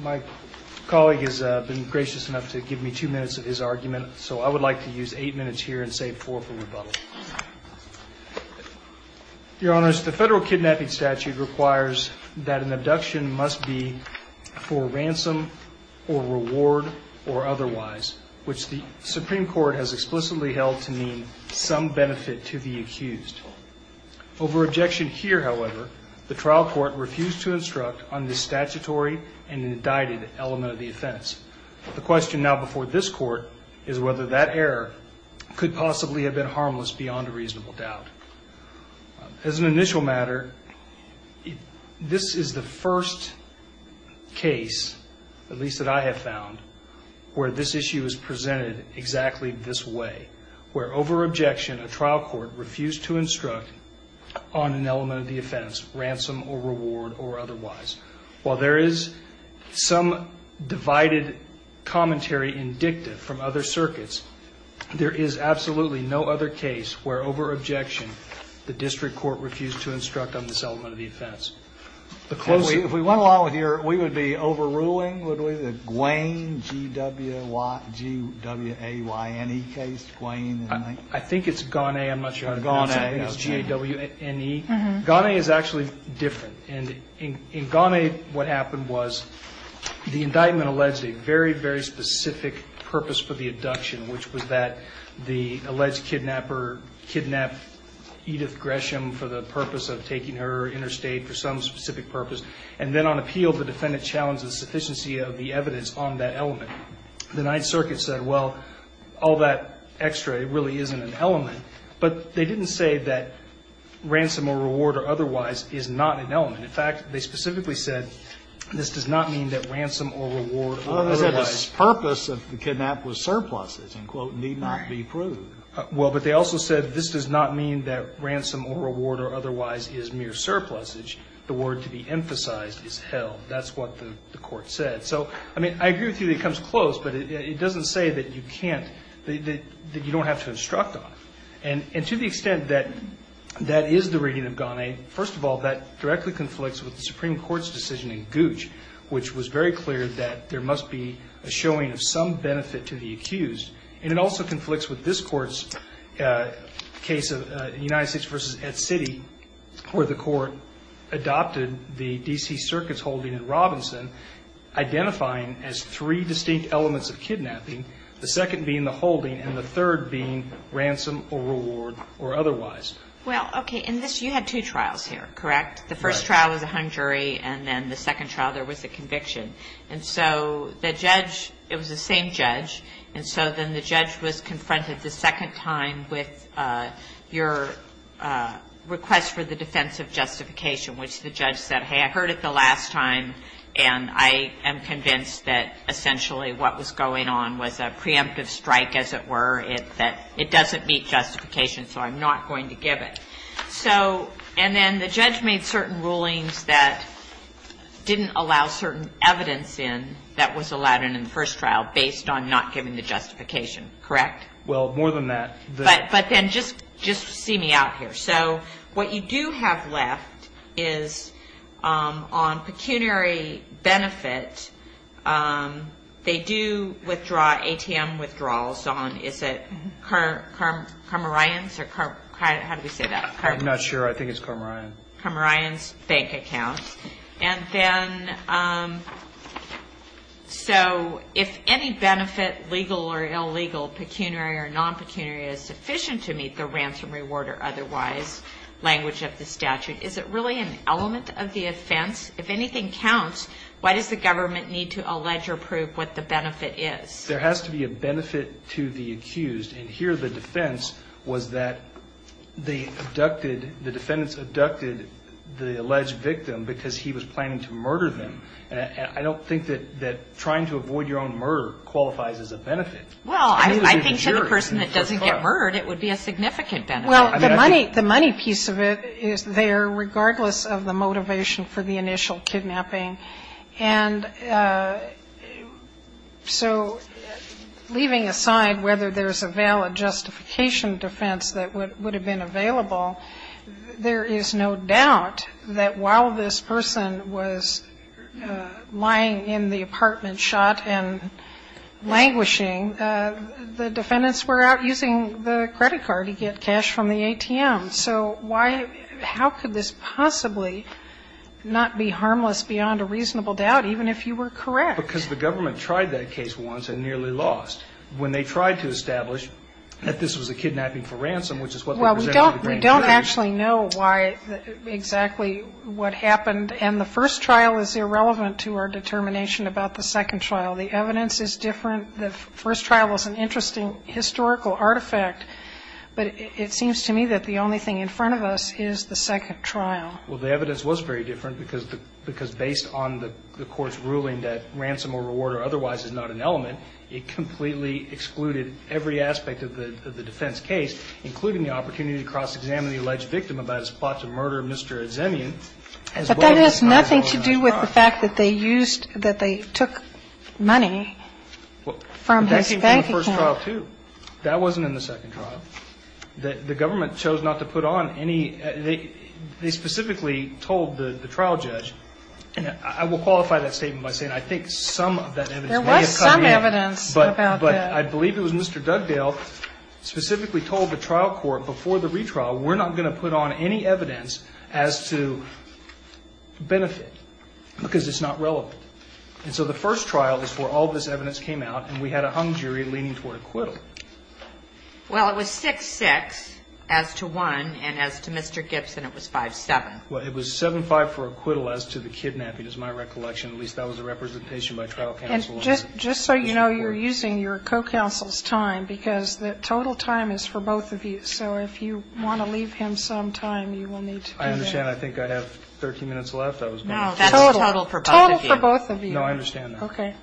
My colleague has been gracious enough to give me two minutes of his argument, so I would like to use eight minutes here and save four for rebuttal. The federal kidnapping statute requires that an abduction must be for ransom or reward or otherwise, which the Supreme Court has explicitly held to mean some benefit to the accused. Over objection here, however, the trial court refused to instruct on the statutory and indicted element of the offense. The question now before this court is whether that error could possibly have been harmless beyond a reasonable doubt. As an initial matter, this is the first case, at least that I have found, where this issue is presented exactly this way. Where over objection, a trial court refused to instruct on an element of the offense, ransom or reward or otherwise. While there is some divided commentary in dicta from other circuits, there is absolutely no other case where over objection, the district court refused to instruct on this element of the offense. Kennedy If we went along here, we would be overruling, would we, the Guayne, G-W-A-Y-N-E case, Guayne? I think it's Guayne. I'm not sure how to pronounce it. I think it's G-A-W-N-E. Guayne is actually different. In Guayne, what happened was the indictment alleged a very, very specific purpose for the abduction, which was that the alleged kidnapper kidnapped Edith Gresham for the purpose of taking her interstate for some specific purpose. And then on appeal, the defendant challenged the sufficiency of the evidence on that element. The Ninth Circuit said, well, all that extra, it really isn't an element. But they didn't say that ransom or reward or otherwise is not an element. In fact, they specifically said, this does not mean that ransom or reward or otherwise Kennedy Otherwise, the purpose of the kidnap was surpluses, and quote, need not be proved. Guayne Well, but they also said this does not mean that ransom or reward or otherwise is mere surpluses. The word to be emphasized is held. That's what the court said. So, I mean, I agree with you that it comes close, but it doesn't say that you can't, that you don't have to instruct on it. And to the extent that that is the reading of Guayne, first of all, that directly conflicts with the Supreme Court's decision in Gooch, which was very clear that there must be a showing of some benefit to the accused. And it also conflicts with this Court's case of United States v. Ed City, where the court adopted the D.C. Circus holding in Robinson, identifying as three distinct elements of kidnapping, the second being the holding, and the third being ransom or reward or otherwise. Well, okay, in this you had two trials here, correct? The first trial was a hung jury, and then the second trial there was a conviction. And so the judge, it was the same judge, and so then the judge was confronted the second time with your request for the defense of justification, which the judge said, hey, I heard it the last time, and I am convinced that essentially what was going on was a preemptive strike, as it were, that it doesn't meet justification, so I'm not going to give it. So, and then the judge made certain rulings that didn't allow certain evidence in that was allowed in the first trial based on not giving the justification, correct? Well, more than that. But then just see me out here. So what you do have left is on pecuniary benefit, they do withdraw, ATM withdrawals on, is it Carmarine's, or how do we say that? I'm not sure. I think it's Carmarine. Carmarine's bank account. And then, so if any benefit, legal or illegal, pecuniary or non-pecuniary, is sufficient to meet the ransom reward or otherwise language of the statute, is it really an element of the offense? If anything counts, why does the government need to allege or prove what the benefit is? There has to be a benefit to the accused, and here the defense was that they abducted, the defendants abducted the alleged victim because he was planning to murder them. And I don't think that trying to avoid your own murder qualifies as a benefit. Well, I think to the person that doesn't get murdered, it would be a significant benefit. Well, the money piece of it is there regardless of the motivation for the initial kidnapping. And so leaving aside whether there's a valid justification defense that would have been available, there is no doubt that while this person was lying in the apartment shot and languishing, the defendants were out using the credit card to get cash from the ATM. So how could this possibly not be harmless beyond a reasonable doubt, even if you were correct? Because the government tried that case once and nearly lost. When they tried to establish that this was a kidnapping for ransom, which is what they presented to the grand jury. Well, we don't actually know why exactly what happened, and the first trial is irrelevant to our determination about the second trial. The evidence is different. The first trial was an interesting historical artifact, but it seems to me that the only thing in front of us is the second trial. Well, the evidence was very different because based on the court's ruling that ransom or reward or otherwise is not an element, it completely excluded every aspect of the defense case, including the opportunity to cross-examine the alleged victim about his plot to murder Mr. Edzemian. But that has nothing to do with the fact that they used, that they took money from his banking account. That came from the first trial, too. That wasn't in the second trial. The government chose not to put on any, they specifically told the trial judge, and I will qualify that statement by saying I think some of that evidence may have come in. There was some evidence about that. But I believe it was Mr. Dugdale specifically told the trial court before the retrial, we're not going to put on any evidence as to benefit because it's not relevant. And so the first trial is where all this evidence came out and we had a hung jury leaning toward acquittal. Well, it was 6-6 as to one and as to Mr. Gibson, it was 5-7. Well, it was 7-5 for acquittal as to the kidnapping is my recollection. At least that was the representation by trial counsel. And just so you know, you're using your co-counsel's time because the total time is for both of you. So if you want to leave him some time, you will need to do that. I understand. I think I have 13 minutes left. Total for both of you. Total for both of you. No, I understand that. Okay.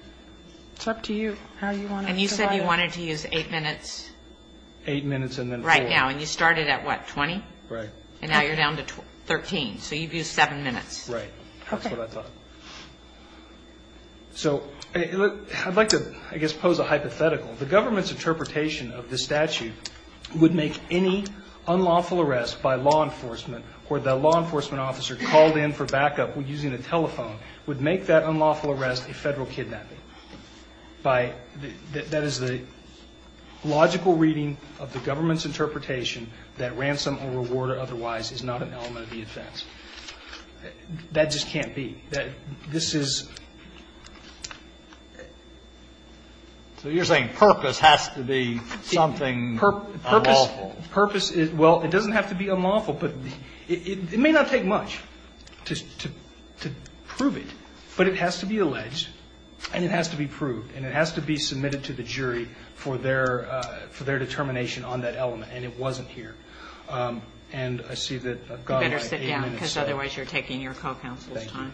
It's up to you how you want to divide it. And you said you wanted to use eight minutes. Eight minutes and then four. Right now. And you started at, what, 20? Right. And now you're down to 13. So you've used seven minutes. Right. Okay. That's what I thought. So I'd like to, I guess, pose a hypothetical. The government's interpretation of the statute would make any unlawful arrest by law enforcement or the law enforcement officer called in for backup using a telephone would make that unlawful arrest a Federal kidnapping. That is the logical reading of the government's interpretation that ransom or reward otherwise is not an element of the offense. That just can't be. This is ---- So you're saying purpose has to be something unlawful. Purpose is, well, it doesn't have to be unlawful. It may not take much to prove it, but it has to be alleged and it has to be proved. And it has to be submitted to the jury for their determination on that element. And it wasn't here. And I see that I've gone by eight minutes. You better sit down because otherwise you're taking your co-counsel's time. Thank you.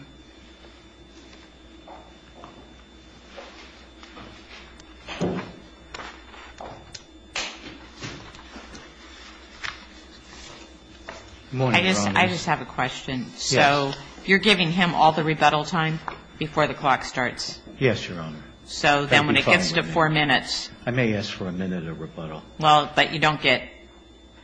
Good morning, Your Honor. I just have a question. Yes. So you're giving him all the rebuttal time before the clock starts? Yes, Your Honor. So then when it gets to four minutes ---- I may ask for a minute of rebuttal. Well, but you don't get,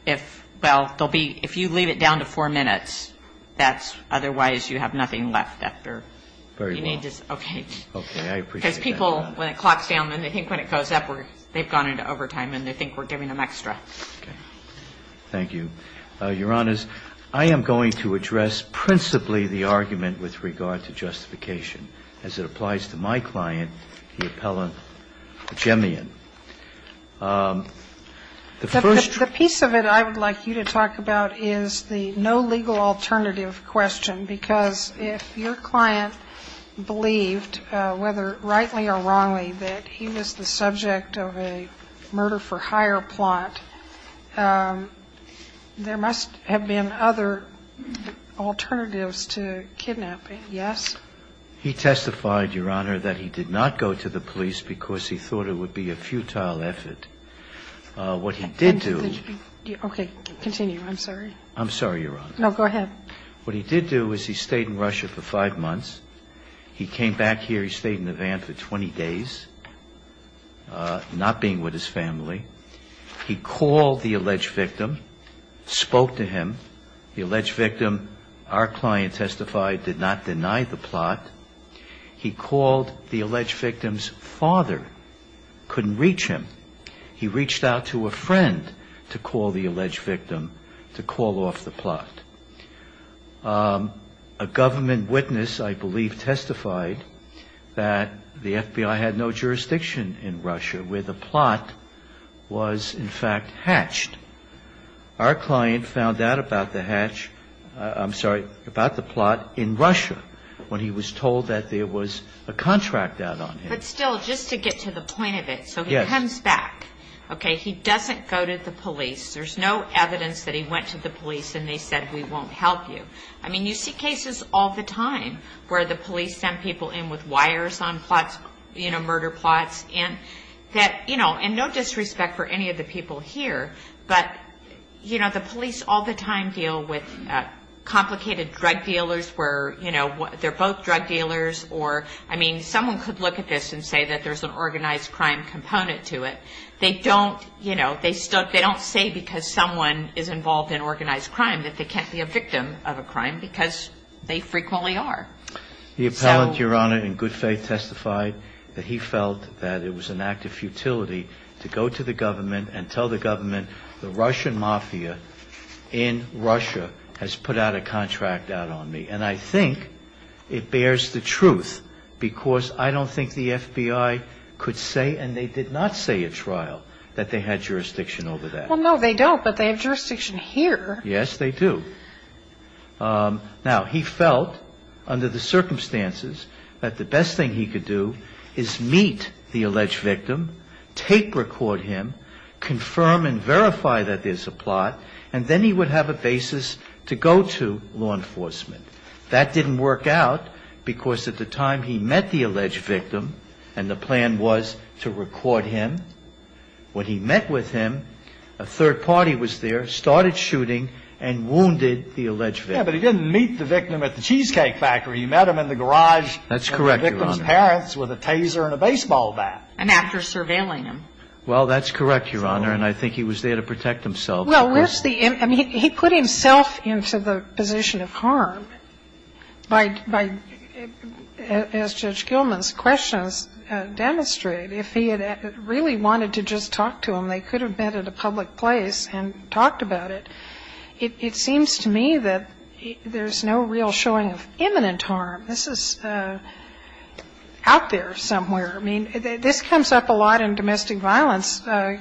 if, well, there'll be, if you leave it down to four minutes, that's, otherwise you have nothing left after. Very well. You need to, okay. Okay. I appreciate that. Because people, when it clocks down and they think when it goes up, they've gone into overtime and they think we're giving them extra. Okay. Thank you. Your Honor, I am going to address principally the argument with regard to justification as it applies to my client, the appellant Gemmian. The first ---- The piece of it I would like you to talk about is the no legal alternative question, because if your client believed, whether rightly or wrongly, that he was the victim, there must have been other alternatives to kidnapping. Yes? He testified, Your Honor, that he did not go to the police because he thought it would be a futile effort. What he did do ---- Okay. Continue. I'm sorry. I'm sorry, Your Honor. No, go ahead. What he did do is he stayed in Russia for five months. He came back here. He stayed in the van for 20 days, not being with his family. He called the alleged victim, spoke to him. The alleged victim, our client testified, did not deny the plot. He called the alleged victim's father, couldn't reach him. He reached out to a friend to call the alleged victim to call off the plot. A government witness, I believe, testified that the FBI had no jurisdiction in Russia, where the plot was, in fact, hatched. Our client found out about the hatch ---- I'm sorry, about the plot in Russia when he was told that there was a contract out on him. But still, just to get to the point of it, so he comes back. Yes. Okay. He doesn't go to the police. There's no evidence that he went to the police and they said, we won't help you. I mean, you see cases all the time where the police send people in with wires on plots, you know, murder plots, and that, you know, and no disrespect for any of the people here, but, you know, the police all the time deal with complicated drug dealers where, you know, they're both drug dealers or, I mean, someone could look at this and say that there's an organized crime component to it. They don't, you know, they don't say because someone is involved in organized crime that they can't be a victim of a crime because they frequently are. The appellant, Your Honor, in good faith testified that he felt that it was an act of futility to go to the government and tell the government the Russian mafia in Russia has put out a contract out on me. And I think it bears the truth because I don't think the FBI could say, and they did not say at trial, that they had jurisdiction over that. Well, no, they don't, but they have jurisdiction here. Yes, they do. Now, he felt under the circumstances that the best thing he could do is meet the alleged victim, tape record him, confirm and verify that there's a plot, and then he would have a basis to go to law enforcement. That didn't work out because at the time he met the alleged victim, and the plan was to record him, when he met with him, a third party was there, started shooting, and wounded the alleged victim. Yeah, but he didn't meet the victim at the Cheesecake Factory. He met him in the garage. That's correct, Your Honor. And the victim's parents with a taser and a baseball bat. And after surveilling him. Well, that's correct, Your Honor, and I think he was there to protect himself. Well, where's the end? I mean, he put himself into the position of harm by, as Judge Gilman's questions demonstrate, if he had really wanted to just talk to him, they could have met at a public place and talked about it. It seems to me that there's no real showing of imminent harm. This is out there somewhere. I mean, this comes up a lot in domestic violence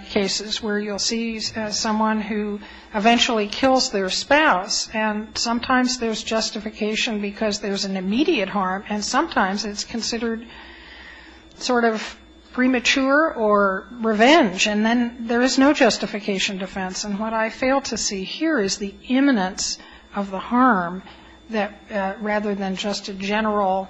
cases where you'll see someone who eventually kills their spouse, and sometimes there's justification because there's an immediate harm, and sometimes it's considered sort of premature or revenge, and then there is no justification defense. And what I fail to see here is the imminence of the harm rather than just a general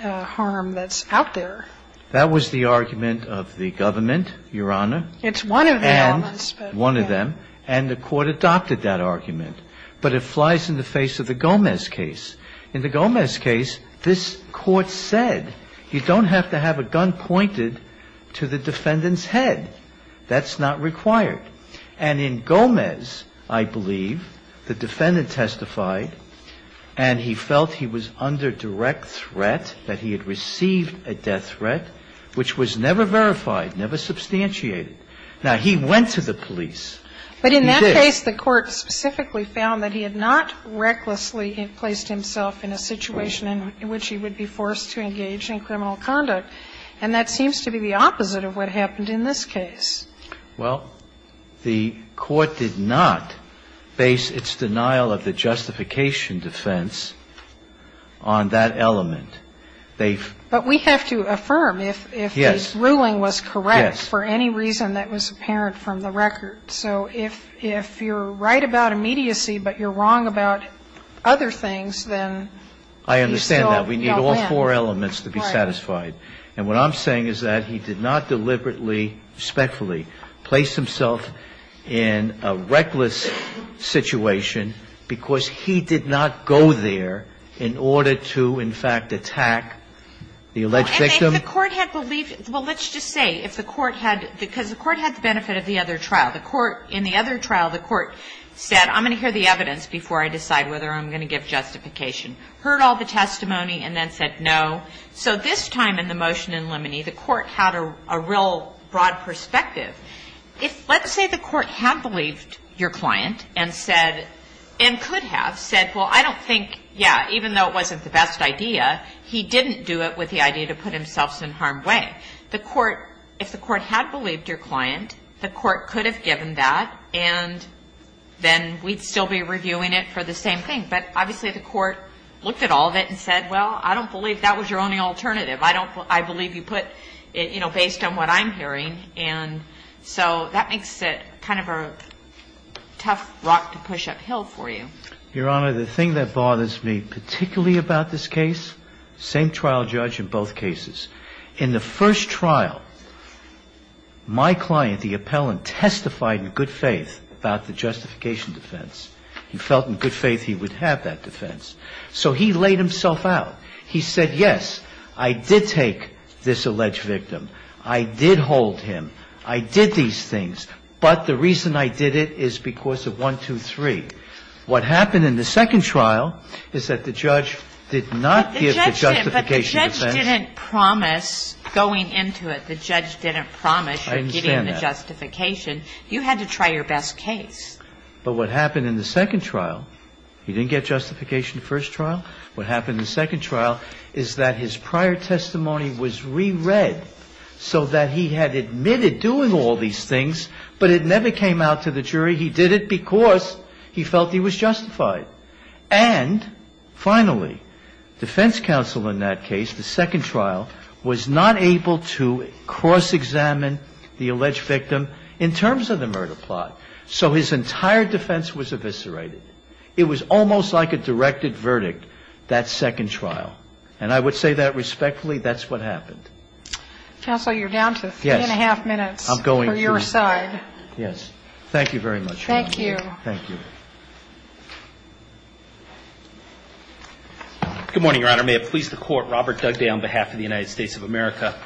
harm that's out there. That was the argument of the government, Your Honor. It's one of the elements. One of them. And the Court adopted that argument. But it flies in the face of the Gomez case. In the Gomez case, this Court said you don't have to have a gun pointed to the defendant's head. That's not required. And in Gomez, I believe, the defendant testified and he felt he was under direct threat, that he had received a death threat, which was never verified, never substantiated. Now, he went to the police. He did. In that case, the Court specifically found that he had not recklessly placed himself in a situation in which he would be forced to engage in criminal conduct. And that seems to be the opposite of what happened in this case. Well, the Court did not base its denial of the justification defense on that element. They've ---- But we have to affirm if the ruling was correct for any reason that was apparent from the record. So if you're right about immediacy, but you're wrong about other things, then you still don't win. I understand that. We need all four elements to be satisfied. And what I'm saying is that he did not deliberately, respectfully place himself in a reckless situation because he did not go there in order to, in fact, attack the alleged victim. And if the Court had believed ---- well, let's just say if the Court had ---- because the Court had the benefit of the other trial. The Court ---- in the other trial, the Court said, I'm going to hear the evidence before I decide whether I'm going to give justification, heard all the testimony and then said no. So this time in the motion in Limoney, the Court had a real broad perspective. If, let's say, the Court had believed your client and said ---- and could have said, well, I don't think, yeah, even though it wasn't the best idea, he didn't do it with the idea to put himself in harm's way. The Court ---- if the Court had believed your client, the Court could have given that and then we'd still be reviewing it for the same thing. But obviously the Court looked at all of it and said, well, I don't believe that was your only alternative. I don't ---- I believe you put it, you know, based on what I'm hearing. And so that makes it kind of a tough rock to push uphill for you. Your Honor, the thing that bothers me particularly about this case, same trial judge in both cases, in the first trial, my client, the appellant, testified in good faith about the justification defense. He felt in good faith he would have that defense. So he laid himself out. He said, yes, I did take this alleged victim. I did hold him. I did these things. But the reason I did it is because of one, two, three. What happened in the second trial is that the judge did not give the justification defense. The judge didn't promise going into it, the judge didn't promise you getting the justification. I understand that. You had to try your best case. But what happened in the second trial, he didn't get justification in the first trial. What happened in the second trial is that his prior testimony was reread so that he had admitted doing all these things, but it never came out to the jury. He did it because he felt he was justified. And finally, defense counsel in that case, the second trial, was not able to cross-examine the alleged victim in terms of the murder plot. So his entire defense was eviscerated. It was almost like a directed verdict, that second trial. And I would say that respectfully, that's what happened. Counsel, you're down to three and a half minutes for your side. Yes. Thank you very much. Thank you. Thank you. Good morning, Your Honor. May it please the Court, Robert Dugday on behalf of the United States of America.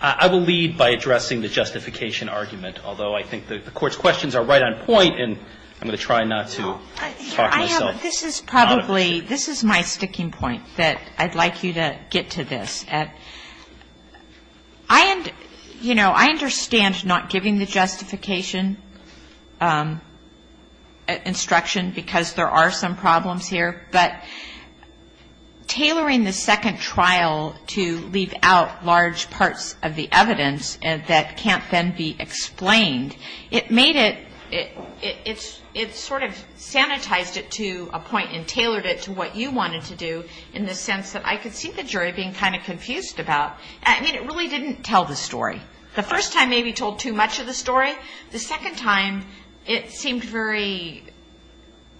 I will lead by addressing the justification argument, although I think the Court's probably, this is my sticking point, that I'd like you to get to this. I understand not giving the justification instruction because there are some problems here, but tailoring the second trial to leave out large parts of the evidence that can't then be explained, it sort of sanitized it to a point and tailored it to what you wanted to do, in the sense that I could see the jury being kind of confused about. I mean, it really didn't tell the story. The first time maybe told too much of the story. The second time, it seemed very,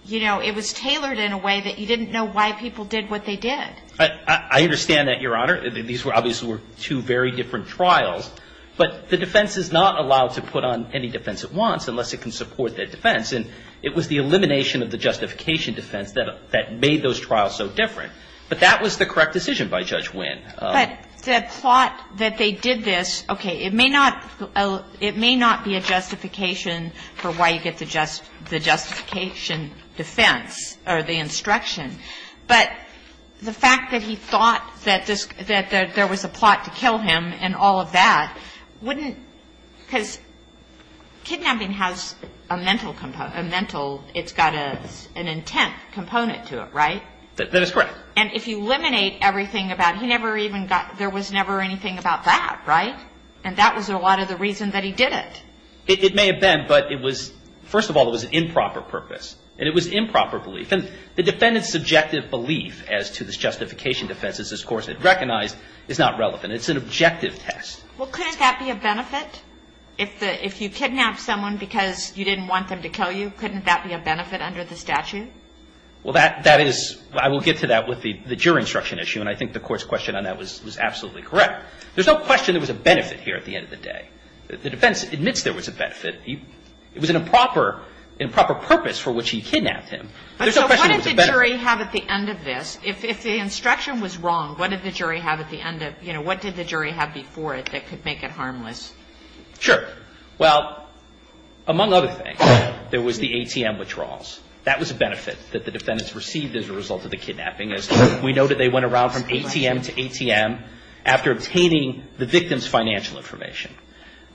you know, it was tailored in a way that you didn't know why people did what they did. I understand that, Your Honor. These were obviously two very different trials. But the defense is not allowed to put on any defense it wants unless it can support that defense. And it was the elimination of the justification defense that made those trials so different. But that was the correct decision by Judge Wynn. But the plot that they did this, okay, it may not be a justification for why you get the justification defense or the instruction. But the fact that he thought that there was a plot to kill him and all of that wouldn't, because kidnapping has a mental, it's got an intent component to it, right? That is correct. And if you eliminate everything about, he never even got, there was never anything about that, right? And that was a lot of the reason that he did it. It may have been, but it was, first of all, it was an improper purpose. And it was improper belief. The defendant's subjective belief as to this justification defense, as this Court had recognized, is not relevant. It's an objective test. Well, couldn't that be a benefit? If you kidnap someone because you didn't want them to kill you, couldn't that be a benefit under the statute? Well, that is, I will get to that with the jury instruction issue. And I think the Court's question on that was absolutely correct. There's no question there was a benefit here at the end of the day. The defense admits there was a benefit. It was an improper purpose for which he kidnapped him. There's no question there was a benefit. So what did the jury have at the end of this? If the instruction was wrong, what did the jury have at the end of, you know, what did the jury have before it that could make it harmless? Sure. Well, among other things, there was the ATM withdrawals. That was a benefit that the defendants received as a result of the kidnapping. We know that they went around from ATM to ATM after obtaining the victim's financial information.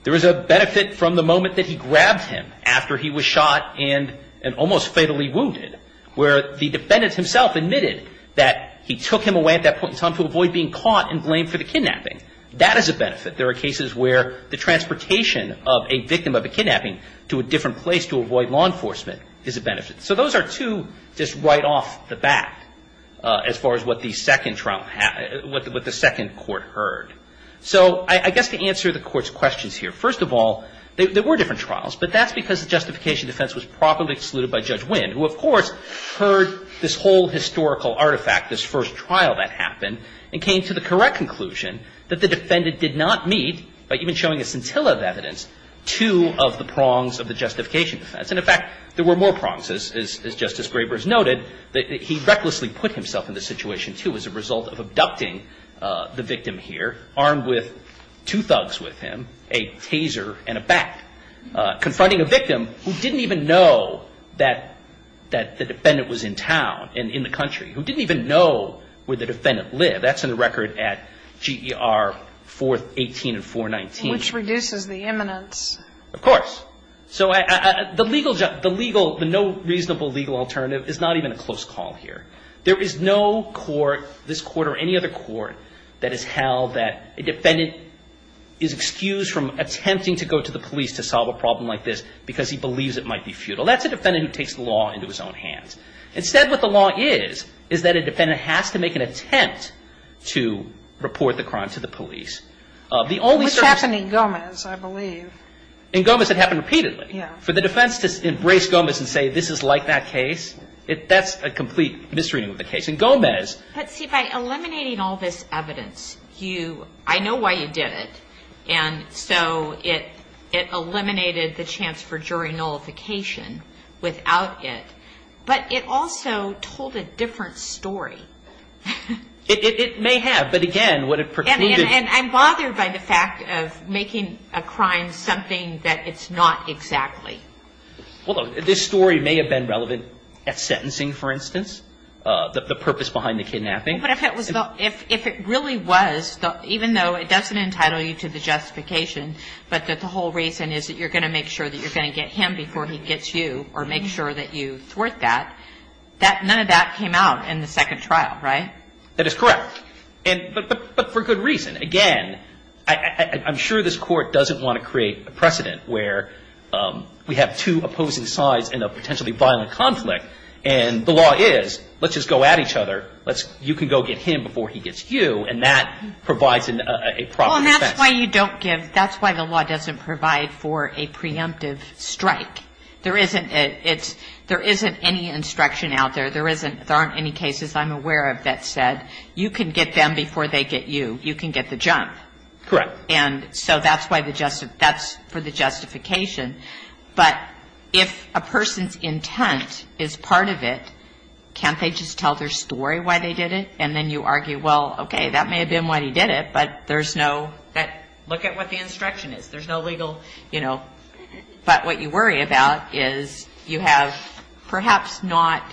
There was a benefit from the moment that he grabbed him after he was shot and almost fatally wounded, where the defendant himself admitted that he took him away at that point in time to avoid being caught and blamed for the kidnapping. That is a benefit. There are cases where the transportation of a victim of a kidnapping to a different place to avoid law enforcement is a benefit. So those are two just right off the bat as far as what the second trial, what the second court heard. So I guess to answer the Court's questions here, first of all, there were different trials, but that's because the justification defense was properly excluded by Judge Winn, who of course heard this whole historical artifact, this first trial that happened, and came to the correct conclusion that the defendant did not meet, by even showing a scintilla of evidence, two of the prongs of the justification defense. And, in fact, there were more prongs, as Justice Graber has noted, that he recklessly put himself in this situation, too, as a result of abducting the victim here, armed with two thugs with him, a taser and a bat, confronting a victim who didn't even know that the defendant was in town and in the country, who didn't even know where the defendant lived. That's in the record at GER 418 and 419. Which reduces the imminence. Of course. So the legal, the no reasonable legal alternative is not even a close call here. There is no court, this court or any other court, that has held that a defendant is excused from attempting to go to the police to solve a problem like this because he believes it might be futile. That's a defendant who takes the law into his own hands. Instead, what the law is, is that a defendant has to make an attempt to report the crime to the police. The only service... With Captain Ingomez, I believe. In Gomez, it happened repeatedly. Yeah. For the defense to embrace Gomez and say this is like that case, that's a complete misreading of the case. In Gomez... But see, by eliminating all this evidence, I know why you did it. And so it eliminated the chance for jury nullification without it. But it also told a different story. It may have. But again, what it precluded... And I'm bothered by the fact of making a crime something that it's not exactly. Well, this story may have been relevant at sentencing, for instance, the purpose behind the kidnapping. But if it really was, even though it doesn't entitle you to the justification, but that the whole reason is that you're going to make sure that you're going to get him before he gets you or make sure that you thwart that, none of that came out in the second trial, right? That is correct. But for good reason. Again, I'm sure this Court doesn't want to create a precedent where we have two opposing sides in a potentially violent conflict and the law is let's just go at each other. You can go get him before he gets you, and that provides a proper defense. Well, and that's why you don't give... That's why the law doesn't provide for a preemptive strike. There isn't any instruction out there. There aren't any cases I'm aware of that said you can get them before they get you. You can get the jump. Correct. And so that's for the justification. But if a person's intent is part of it, can't they just tell their story why they did it? And then you argue, well, okay, that may have been why he did it, but there's no... There's no legal, you know... But what you worry about is you have perhaps not...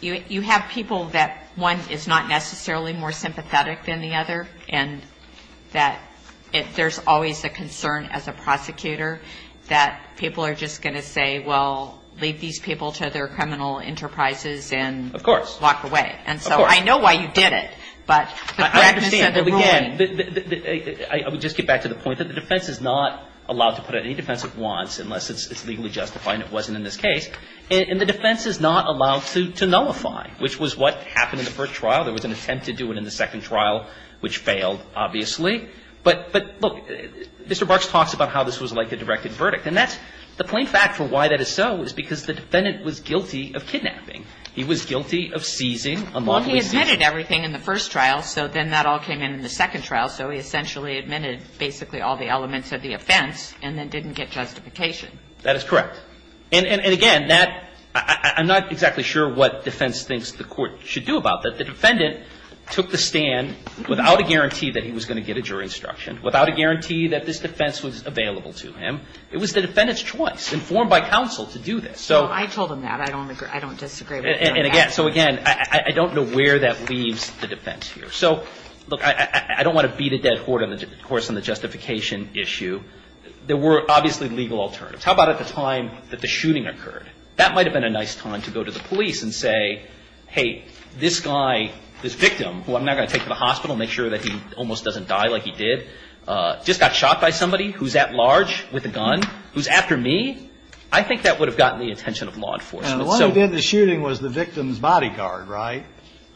You have people that one is not necessarily more sympathetic than the other, and that there's always a concern as a prosecutor that people are just going to say, well, leave these people to their criminal enterprises and walk away. Of course. And so I know why you did it, but the practice and the ruling... I mean, the defense is not allowed to nullify, which was what happened in the first trial. There was an attempt to do it in the second trial, which failed, obviously. But, look, Mr. Barks talks about how this was like a directed verdict. And that's the plain fact for why that is so is because the defendant was guilty of kidnapping. He was guilty of seizing a monthly seizure. Well, he admitted everything in the first trial, so then that all came in in the second trial. So he essentially admitted basically all the elements of the offense and then did it. But he didn't get justification. That is correct. And, again, I'm not exactly sure what defense thinks the court should do about that. The defendant took the stand without a guarantee that he was going to get a jury instruction, without a guarantee that this defense was available to him. It was the defendant's choice, informed by counsel, to do this. No, I told him that. I don't disagree with that. And, again, so, again, I don't know where that leaves the defense here. So, look, I don't want to beat a dead horse on the justification issue. There were obviously legal alternatives. How about at the time that the shooting occurred? That might have been a nice time to go to the police and say, hey, this guy, this victim, who I'm not going to take to the hospital, make sure that he almost doesn't die like he did, just got shot by somebody who's at large with a gun, who's after me. I think that would have gotten the attention of law enforcement. And the one who did the shooting was the victim's bodyguard, right?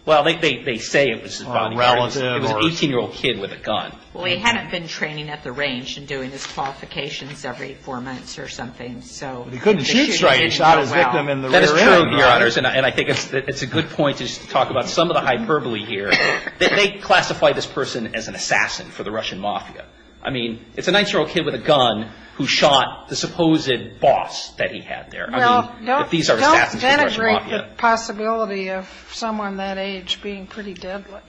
Well, they say it was his bodyguard. Relative or? It was an 18-year-old kid with a gun. Well, he hadn't been training at the range and doing his qualifications every four months or something. So the shooting didn't go well. But he couldn't shoot straight. He shot his victim in the rear end. That is true, Your Honors. And I think it's a good point just to talk about some of the hyperbole here. They classify this person as an assassin for the Russian mafia. I mean, it's a 9-year-old kid with a gun who shot the supposed boss that he had there. I mean, if these are assassins for the Russian mafia. Well, don't denigrate the possibility of someone that age being pretty deadly.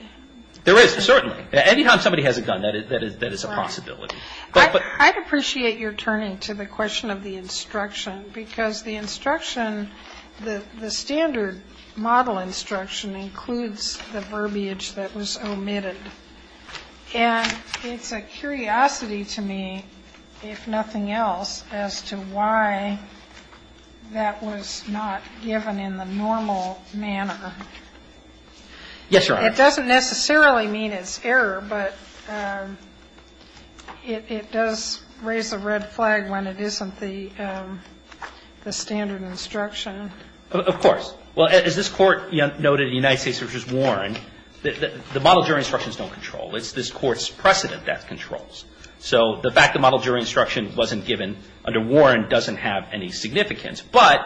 There is, certainly. Any time somebody has a gun, that is a possibility. Right. I'd appreciate your turning to the question of the instruction, because the instruction, the standard model instruction includes the verbiage that was omitted. And it's a curiosity to me, if nothing else, as to why that was not given in the normal manner. Yes, Your Honors. It doesn't necessarily mean it's error, but it does raise a red flag when it isn't the standard instruction. Of course. Well, as this Court noted in the United States v. Warren, the model jury instructions don't control. It's this Court's precedent that controls. So the fact the model jury instruction wasn't given under Warren doesn't have any significance. But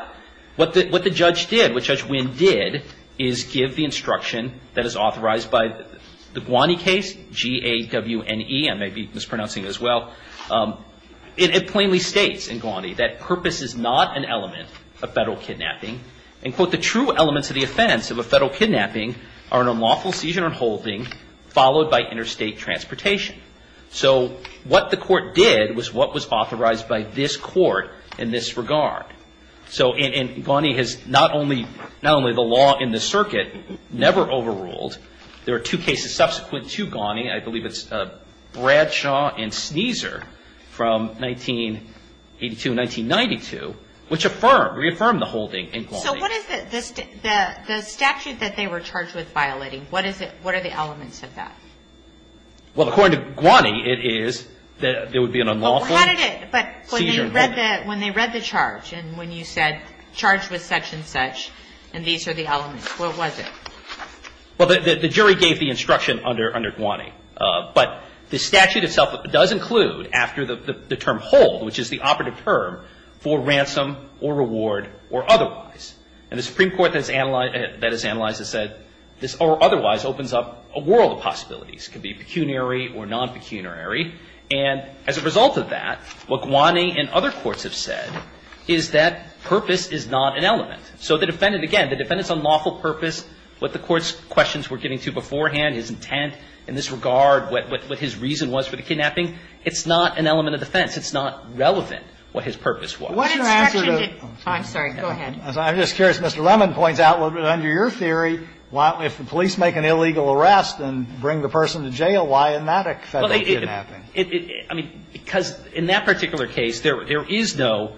what the judge did, what Judge Winn did, is give the instruction that is authorized by the Gwani case, G-A-W-N-E. I may be mispronouncing it as well. It plainly states in Gwani that purpose is not an element of federal kidnapping. And, quote, the true elements of the offense of a federal kidnapping are an unlawful seizure and holding followed by interstate transportation. So what the Court did was what was authorized by this Court in this regard. So Gwani has not only the law in the circuit never overruled. There are two cases subsequent to Gwani. I believe it's Bradshaw and Sneezer from 1982 and 1992, which reaffirmed the holding in Gwani. So what is the statute that they were charged with violating? What are the elements of that? Well, according to Gwani, it is that there would be an unlawful seizure and holding. But when they read the charge and when you said charged with such and such and these are the elements, what was it? Well, the jury gave the instruction under Gwani. But the statute itself does include after the term hold, which is the operative term, for ransom or reward or otherwise. And the Supreme Court that has analyzed it said this or otherwise opens up a world of possibilities. It could be pecuniary or non-pecuniary. And as a result of that, what Gwani and other courts have said is that purpose is not an element. So the defendant, again, the defendant's unlawful purpose, what the Court's questions were giving to beforehand, his intent in this regard, what his reason was for the kidnapping, it's not an element of defense. It's not relevant what his purpose was. But what's your answer to the question? I'm sorry, go ahead. I'm just curious. Mr. Lemon points out under your theory, if the police make an illegal arrest and bring the person to jail, why isn't that a federal kidnapping? I mean, because in that particular case, there is no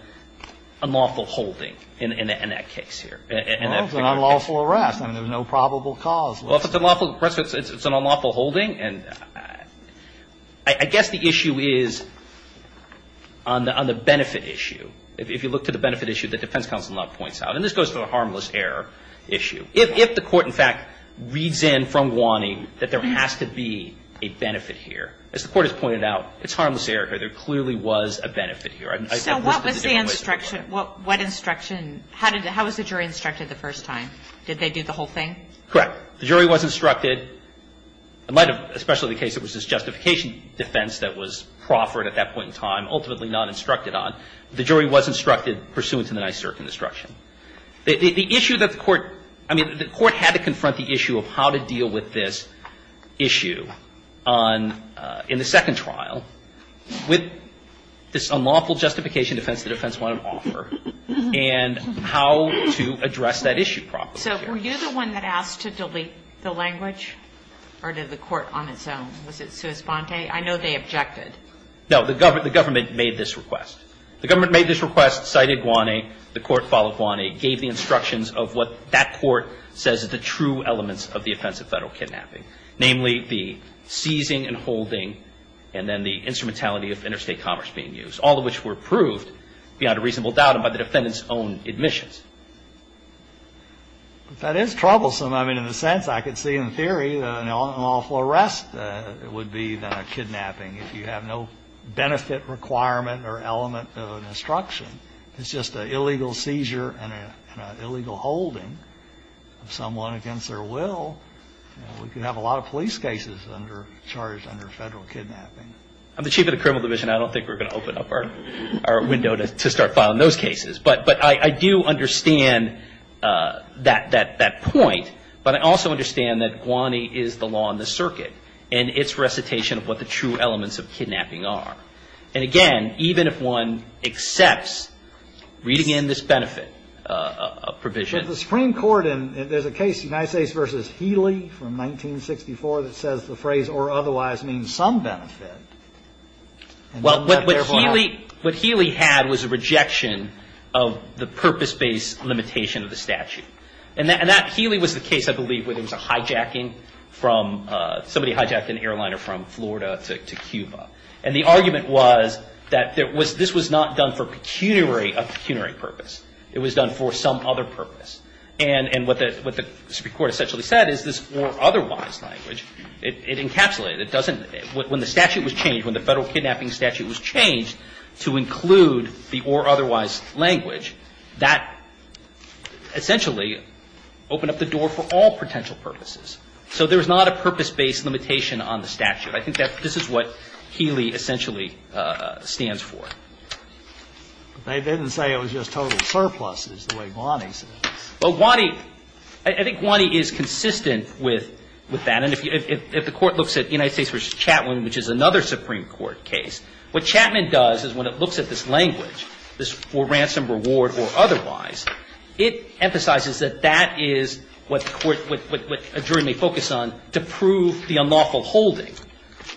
unlawful holding in that case here. Well, it's an unlawful arrest and there's no probable cause. Well, if it's an unlawful arrest, it's an unlawful holding. And I guess the issue is on the benefit issue. If you look to the benefit issue, the defense counsel now points out, and this goes to the harmless error issue. If the Court, in fact, reads in from Gwani that there has to be a benefit here, as the Court has pointed out, it's harmless error here. There clearly was a benefit here. So what was the instruction? What instruction? How was the jury instructed the first time? Did they do the whole thing? Correct. The jury was instructed, in light of especially the case that was this justification defense that was proffered at that point in time, ultimately not instructed on, the jury was instructed pursuant to the nice circuit instruction. The issue that the Court – I mean, the Court had to confront the issue of how to deal with this issue on – in the second trial with this unlawful justification defense the defense wanted to offer and how to address that issue properly. So were you the one that asked to delete the language or did the Court on its own? Was it sua sponte? I know they objected. No. The government made this request. The government made this request, cited Gwani. The Court followed Gwani, gave the instructions of what that Court says are the true elements of the offense of federal kidnapping, namely the seizing and holding and then the instrumentality of interstate commerce being used, all of which were proved beyond a reasonable doubt by the defendant's own admissions. That is troublesome. I mean, in a sense, I could see in theory that an unlawful arrest would be than a kidnapping. If you have no benefit requirement or element of instruction, it's just an illegal seizure and an illegal holding of someone against their will, we could have a lot of police cases under – charged under federal kidnapping. I'm the chief of the criminal division. I don't think we're going to open up our window to start filing those cases. But I do understand that point. But I also understand that Gwani is the law in the circuit and its recitation of what the true elements of kidnapping are. And, again, even if one accepts reading in this benefit provision. But if the Supreme Court – and there's a case, United States v. Healy from 1964, that says the phrase or otherwise means some benefit. Well, what Healy had was a rejection of the purpose-based limitation of the statute. And that – Healy was the case, I believe, where there was a hijacking from – somebody hijacked an airliner from Florida to Cuba. And the argument was that there was – this was not done for pecuniary – a pecuniary purpose. It was done for some other purpose. And what the Supreme Court essentially said is this or otherwise language, it encapsulated. It doesn't – when the statute was changed, when the federal kidnapping statute was changed to include the or otherwise language, that essentially opened up the door for all potential purposes. So there is not a purpose-based limitation on the statute. I think that this is what Healy essentially stands for. But they didn't say it was just total surpluses, the way Gwani said it. Well, Gwani – I think Gwani is consistent with that. And if the Court looks at United States v. Chapman, which is another Supreme Court case, what Chapman does is when it looks at this language, this for ransom, reward, or otherwise, it emphasizes that that is what the Court – what a jury may focus on to prove the unlawful holding.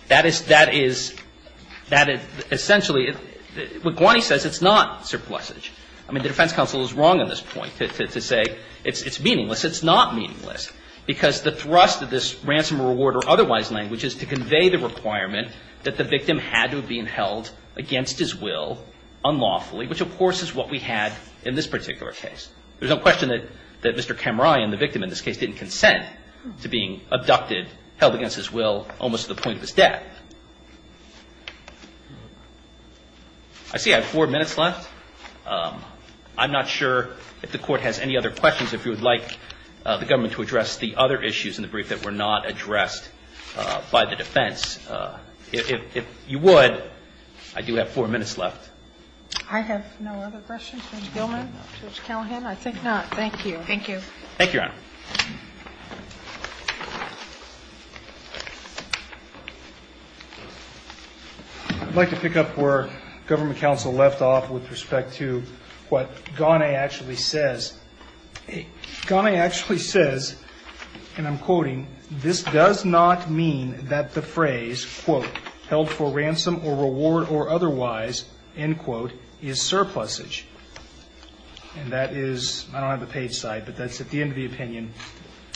That is – that is – that is essentially – what Gwani says, it's not surplusage. I mean, the defense counsel is wrong in this point to say it's meaningless. It's not meaningless, because the thrust of this ransom, reward, or otherwise language is to convey the requirement that the victim had to have been held against his will unlawfully, which, of course, is what we had in this particular case. There's no question that Mr. Kamrai and the victim in this case didn't consent to being abducted, held against his will, almost to the point of his death. I see I have four minutes left. I'm not sure if the Court has any other questions. If you would like the government to address the other issues in the brief that were not addressed by the defense. If you would, I do have four minutes left. I have no other questions. Judge Gilman? Judge Callahan? I think not. Thank you. Thank you. Thank you, Your Honor. I'd like to pick up where government counsel left off with respect to what Ghané actually says. Ghané actually says, and I'm quoting, this does not mean that the phrase, quote, held for ransom or reward or otherwise, end quote, is surplusage. And that is, I don't have the page side, but that's at the end of the opinion.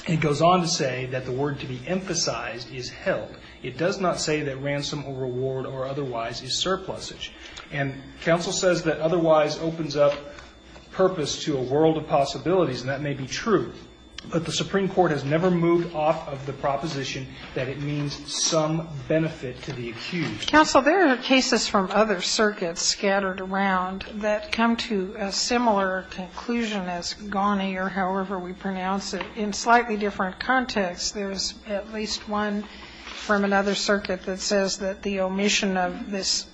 It goes on to say that the word to be emphasized is held. It does not say that ransom or reward or otherwise is surplusage. And counsel says that otherwise opens up purpose to a world of possibilities, and that may be true, but the Supreme Court has never moved off of the proposition that it means some benefit to the accused. Counsel, there are cases from other circuits scattered around that come to a similar conclusion as Ghané or however we pronounce it. In slightly different contexts, there's at least one from another circuit that says that the omission of this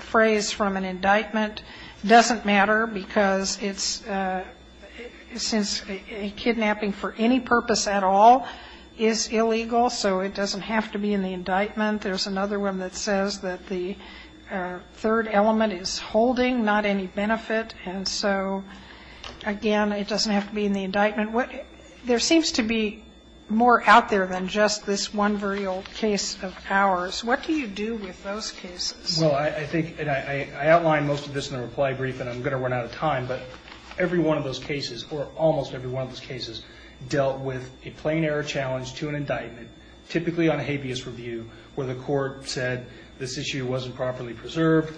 phrase from an indictment doesn't matter because it's, since kidnapping for any purpose at all is illegal, so it doesn't have to be in the indictment. There's another one that says that the third element is holding, not any benefit, and so, again, it doesn't have to be in the indictment. There seems to be more out there than just this one very old case of ours. What do you do with those cases? Well, I think, and I outlined most of this in the reply brief, and I'm going to run out of time, but every one of those cases, or almost every one of those cases, dealt with a plain error challenge to an indictment, typically on a habeas review, where the court said this issue wasn't properly preserved,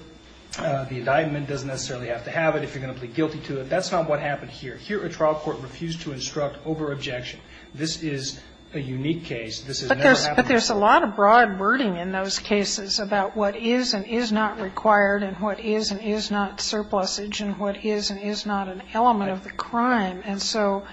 the indictment doesn't necessarily have to have it if you're going to plead guilty to it. That's not what happened here. Here, a trial court refused to instruct over-objection. This is a unique case. This has never happened before. But there's a lot of broad wording in those cases about what is and is not required and what is and is not surplusage and what is and is not an element of the crime. And so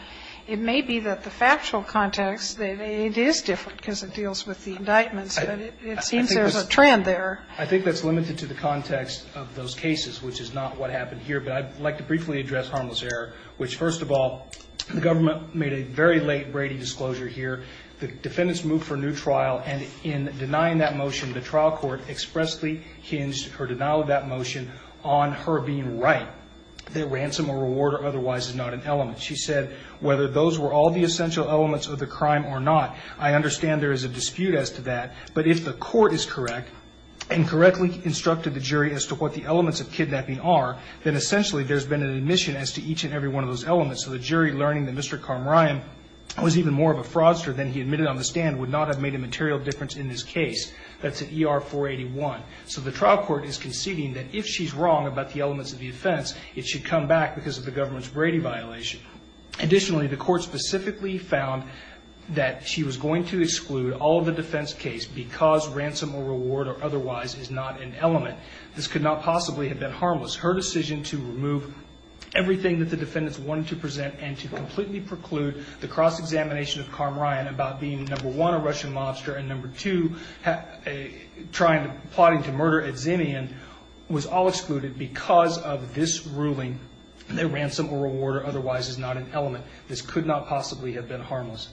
it may be that the factual context, it is different because it deals with the indictments, but it seems there's a trend there. I think that's limited to the context of those cases, which is not what happened here. But I'd like to briefly address harmless error, which, first of all, the government made a very late Brady disclosure here. The defendants moved for a new trial, and in denying that motion, the trial court expressly hinged her denial of that motion on her being right. Now, that ransom or reward or otherwise is not an element. She said, whether those were all the essential elements of the crime or not, I understand there is a dispute as to that. But if the court is correct and correctly instructed the jury as to what the elements of kidnapping are, then essentially there's been an admission as to each and every one of those elements. So the jury learning that Mr. Karm Ryan was even more of a fraudster than he admitted on the stand would not have made a material difference in this case. That's at ER 481. So the trial court is conceding that if she's wrong about the elements of the offense, it should come back because of the government's Brady violation. Additionally, the court specifically found that she was going to exclude all of the defense case because ransom or reward or otherwise is not an element. This could not possibly have been harmless. Her decision to remove everything that the defendants wanted to present and to completely preclude the cross-examination of Karm Ryan about being, number one, a Russian mobster and, number two, plotting to murder at Zinnian was all excluded because of this ruling that ransom or reward or otherwise is not an element. This could not possibly have been harmless.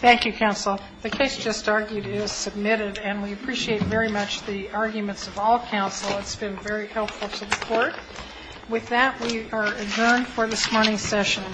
Thank you, counsel. The case just argued is submitted, and we appreciate very much the arguments of all counsel. It's been very helpful to the court. With that, we are adjourned for this morning's session.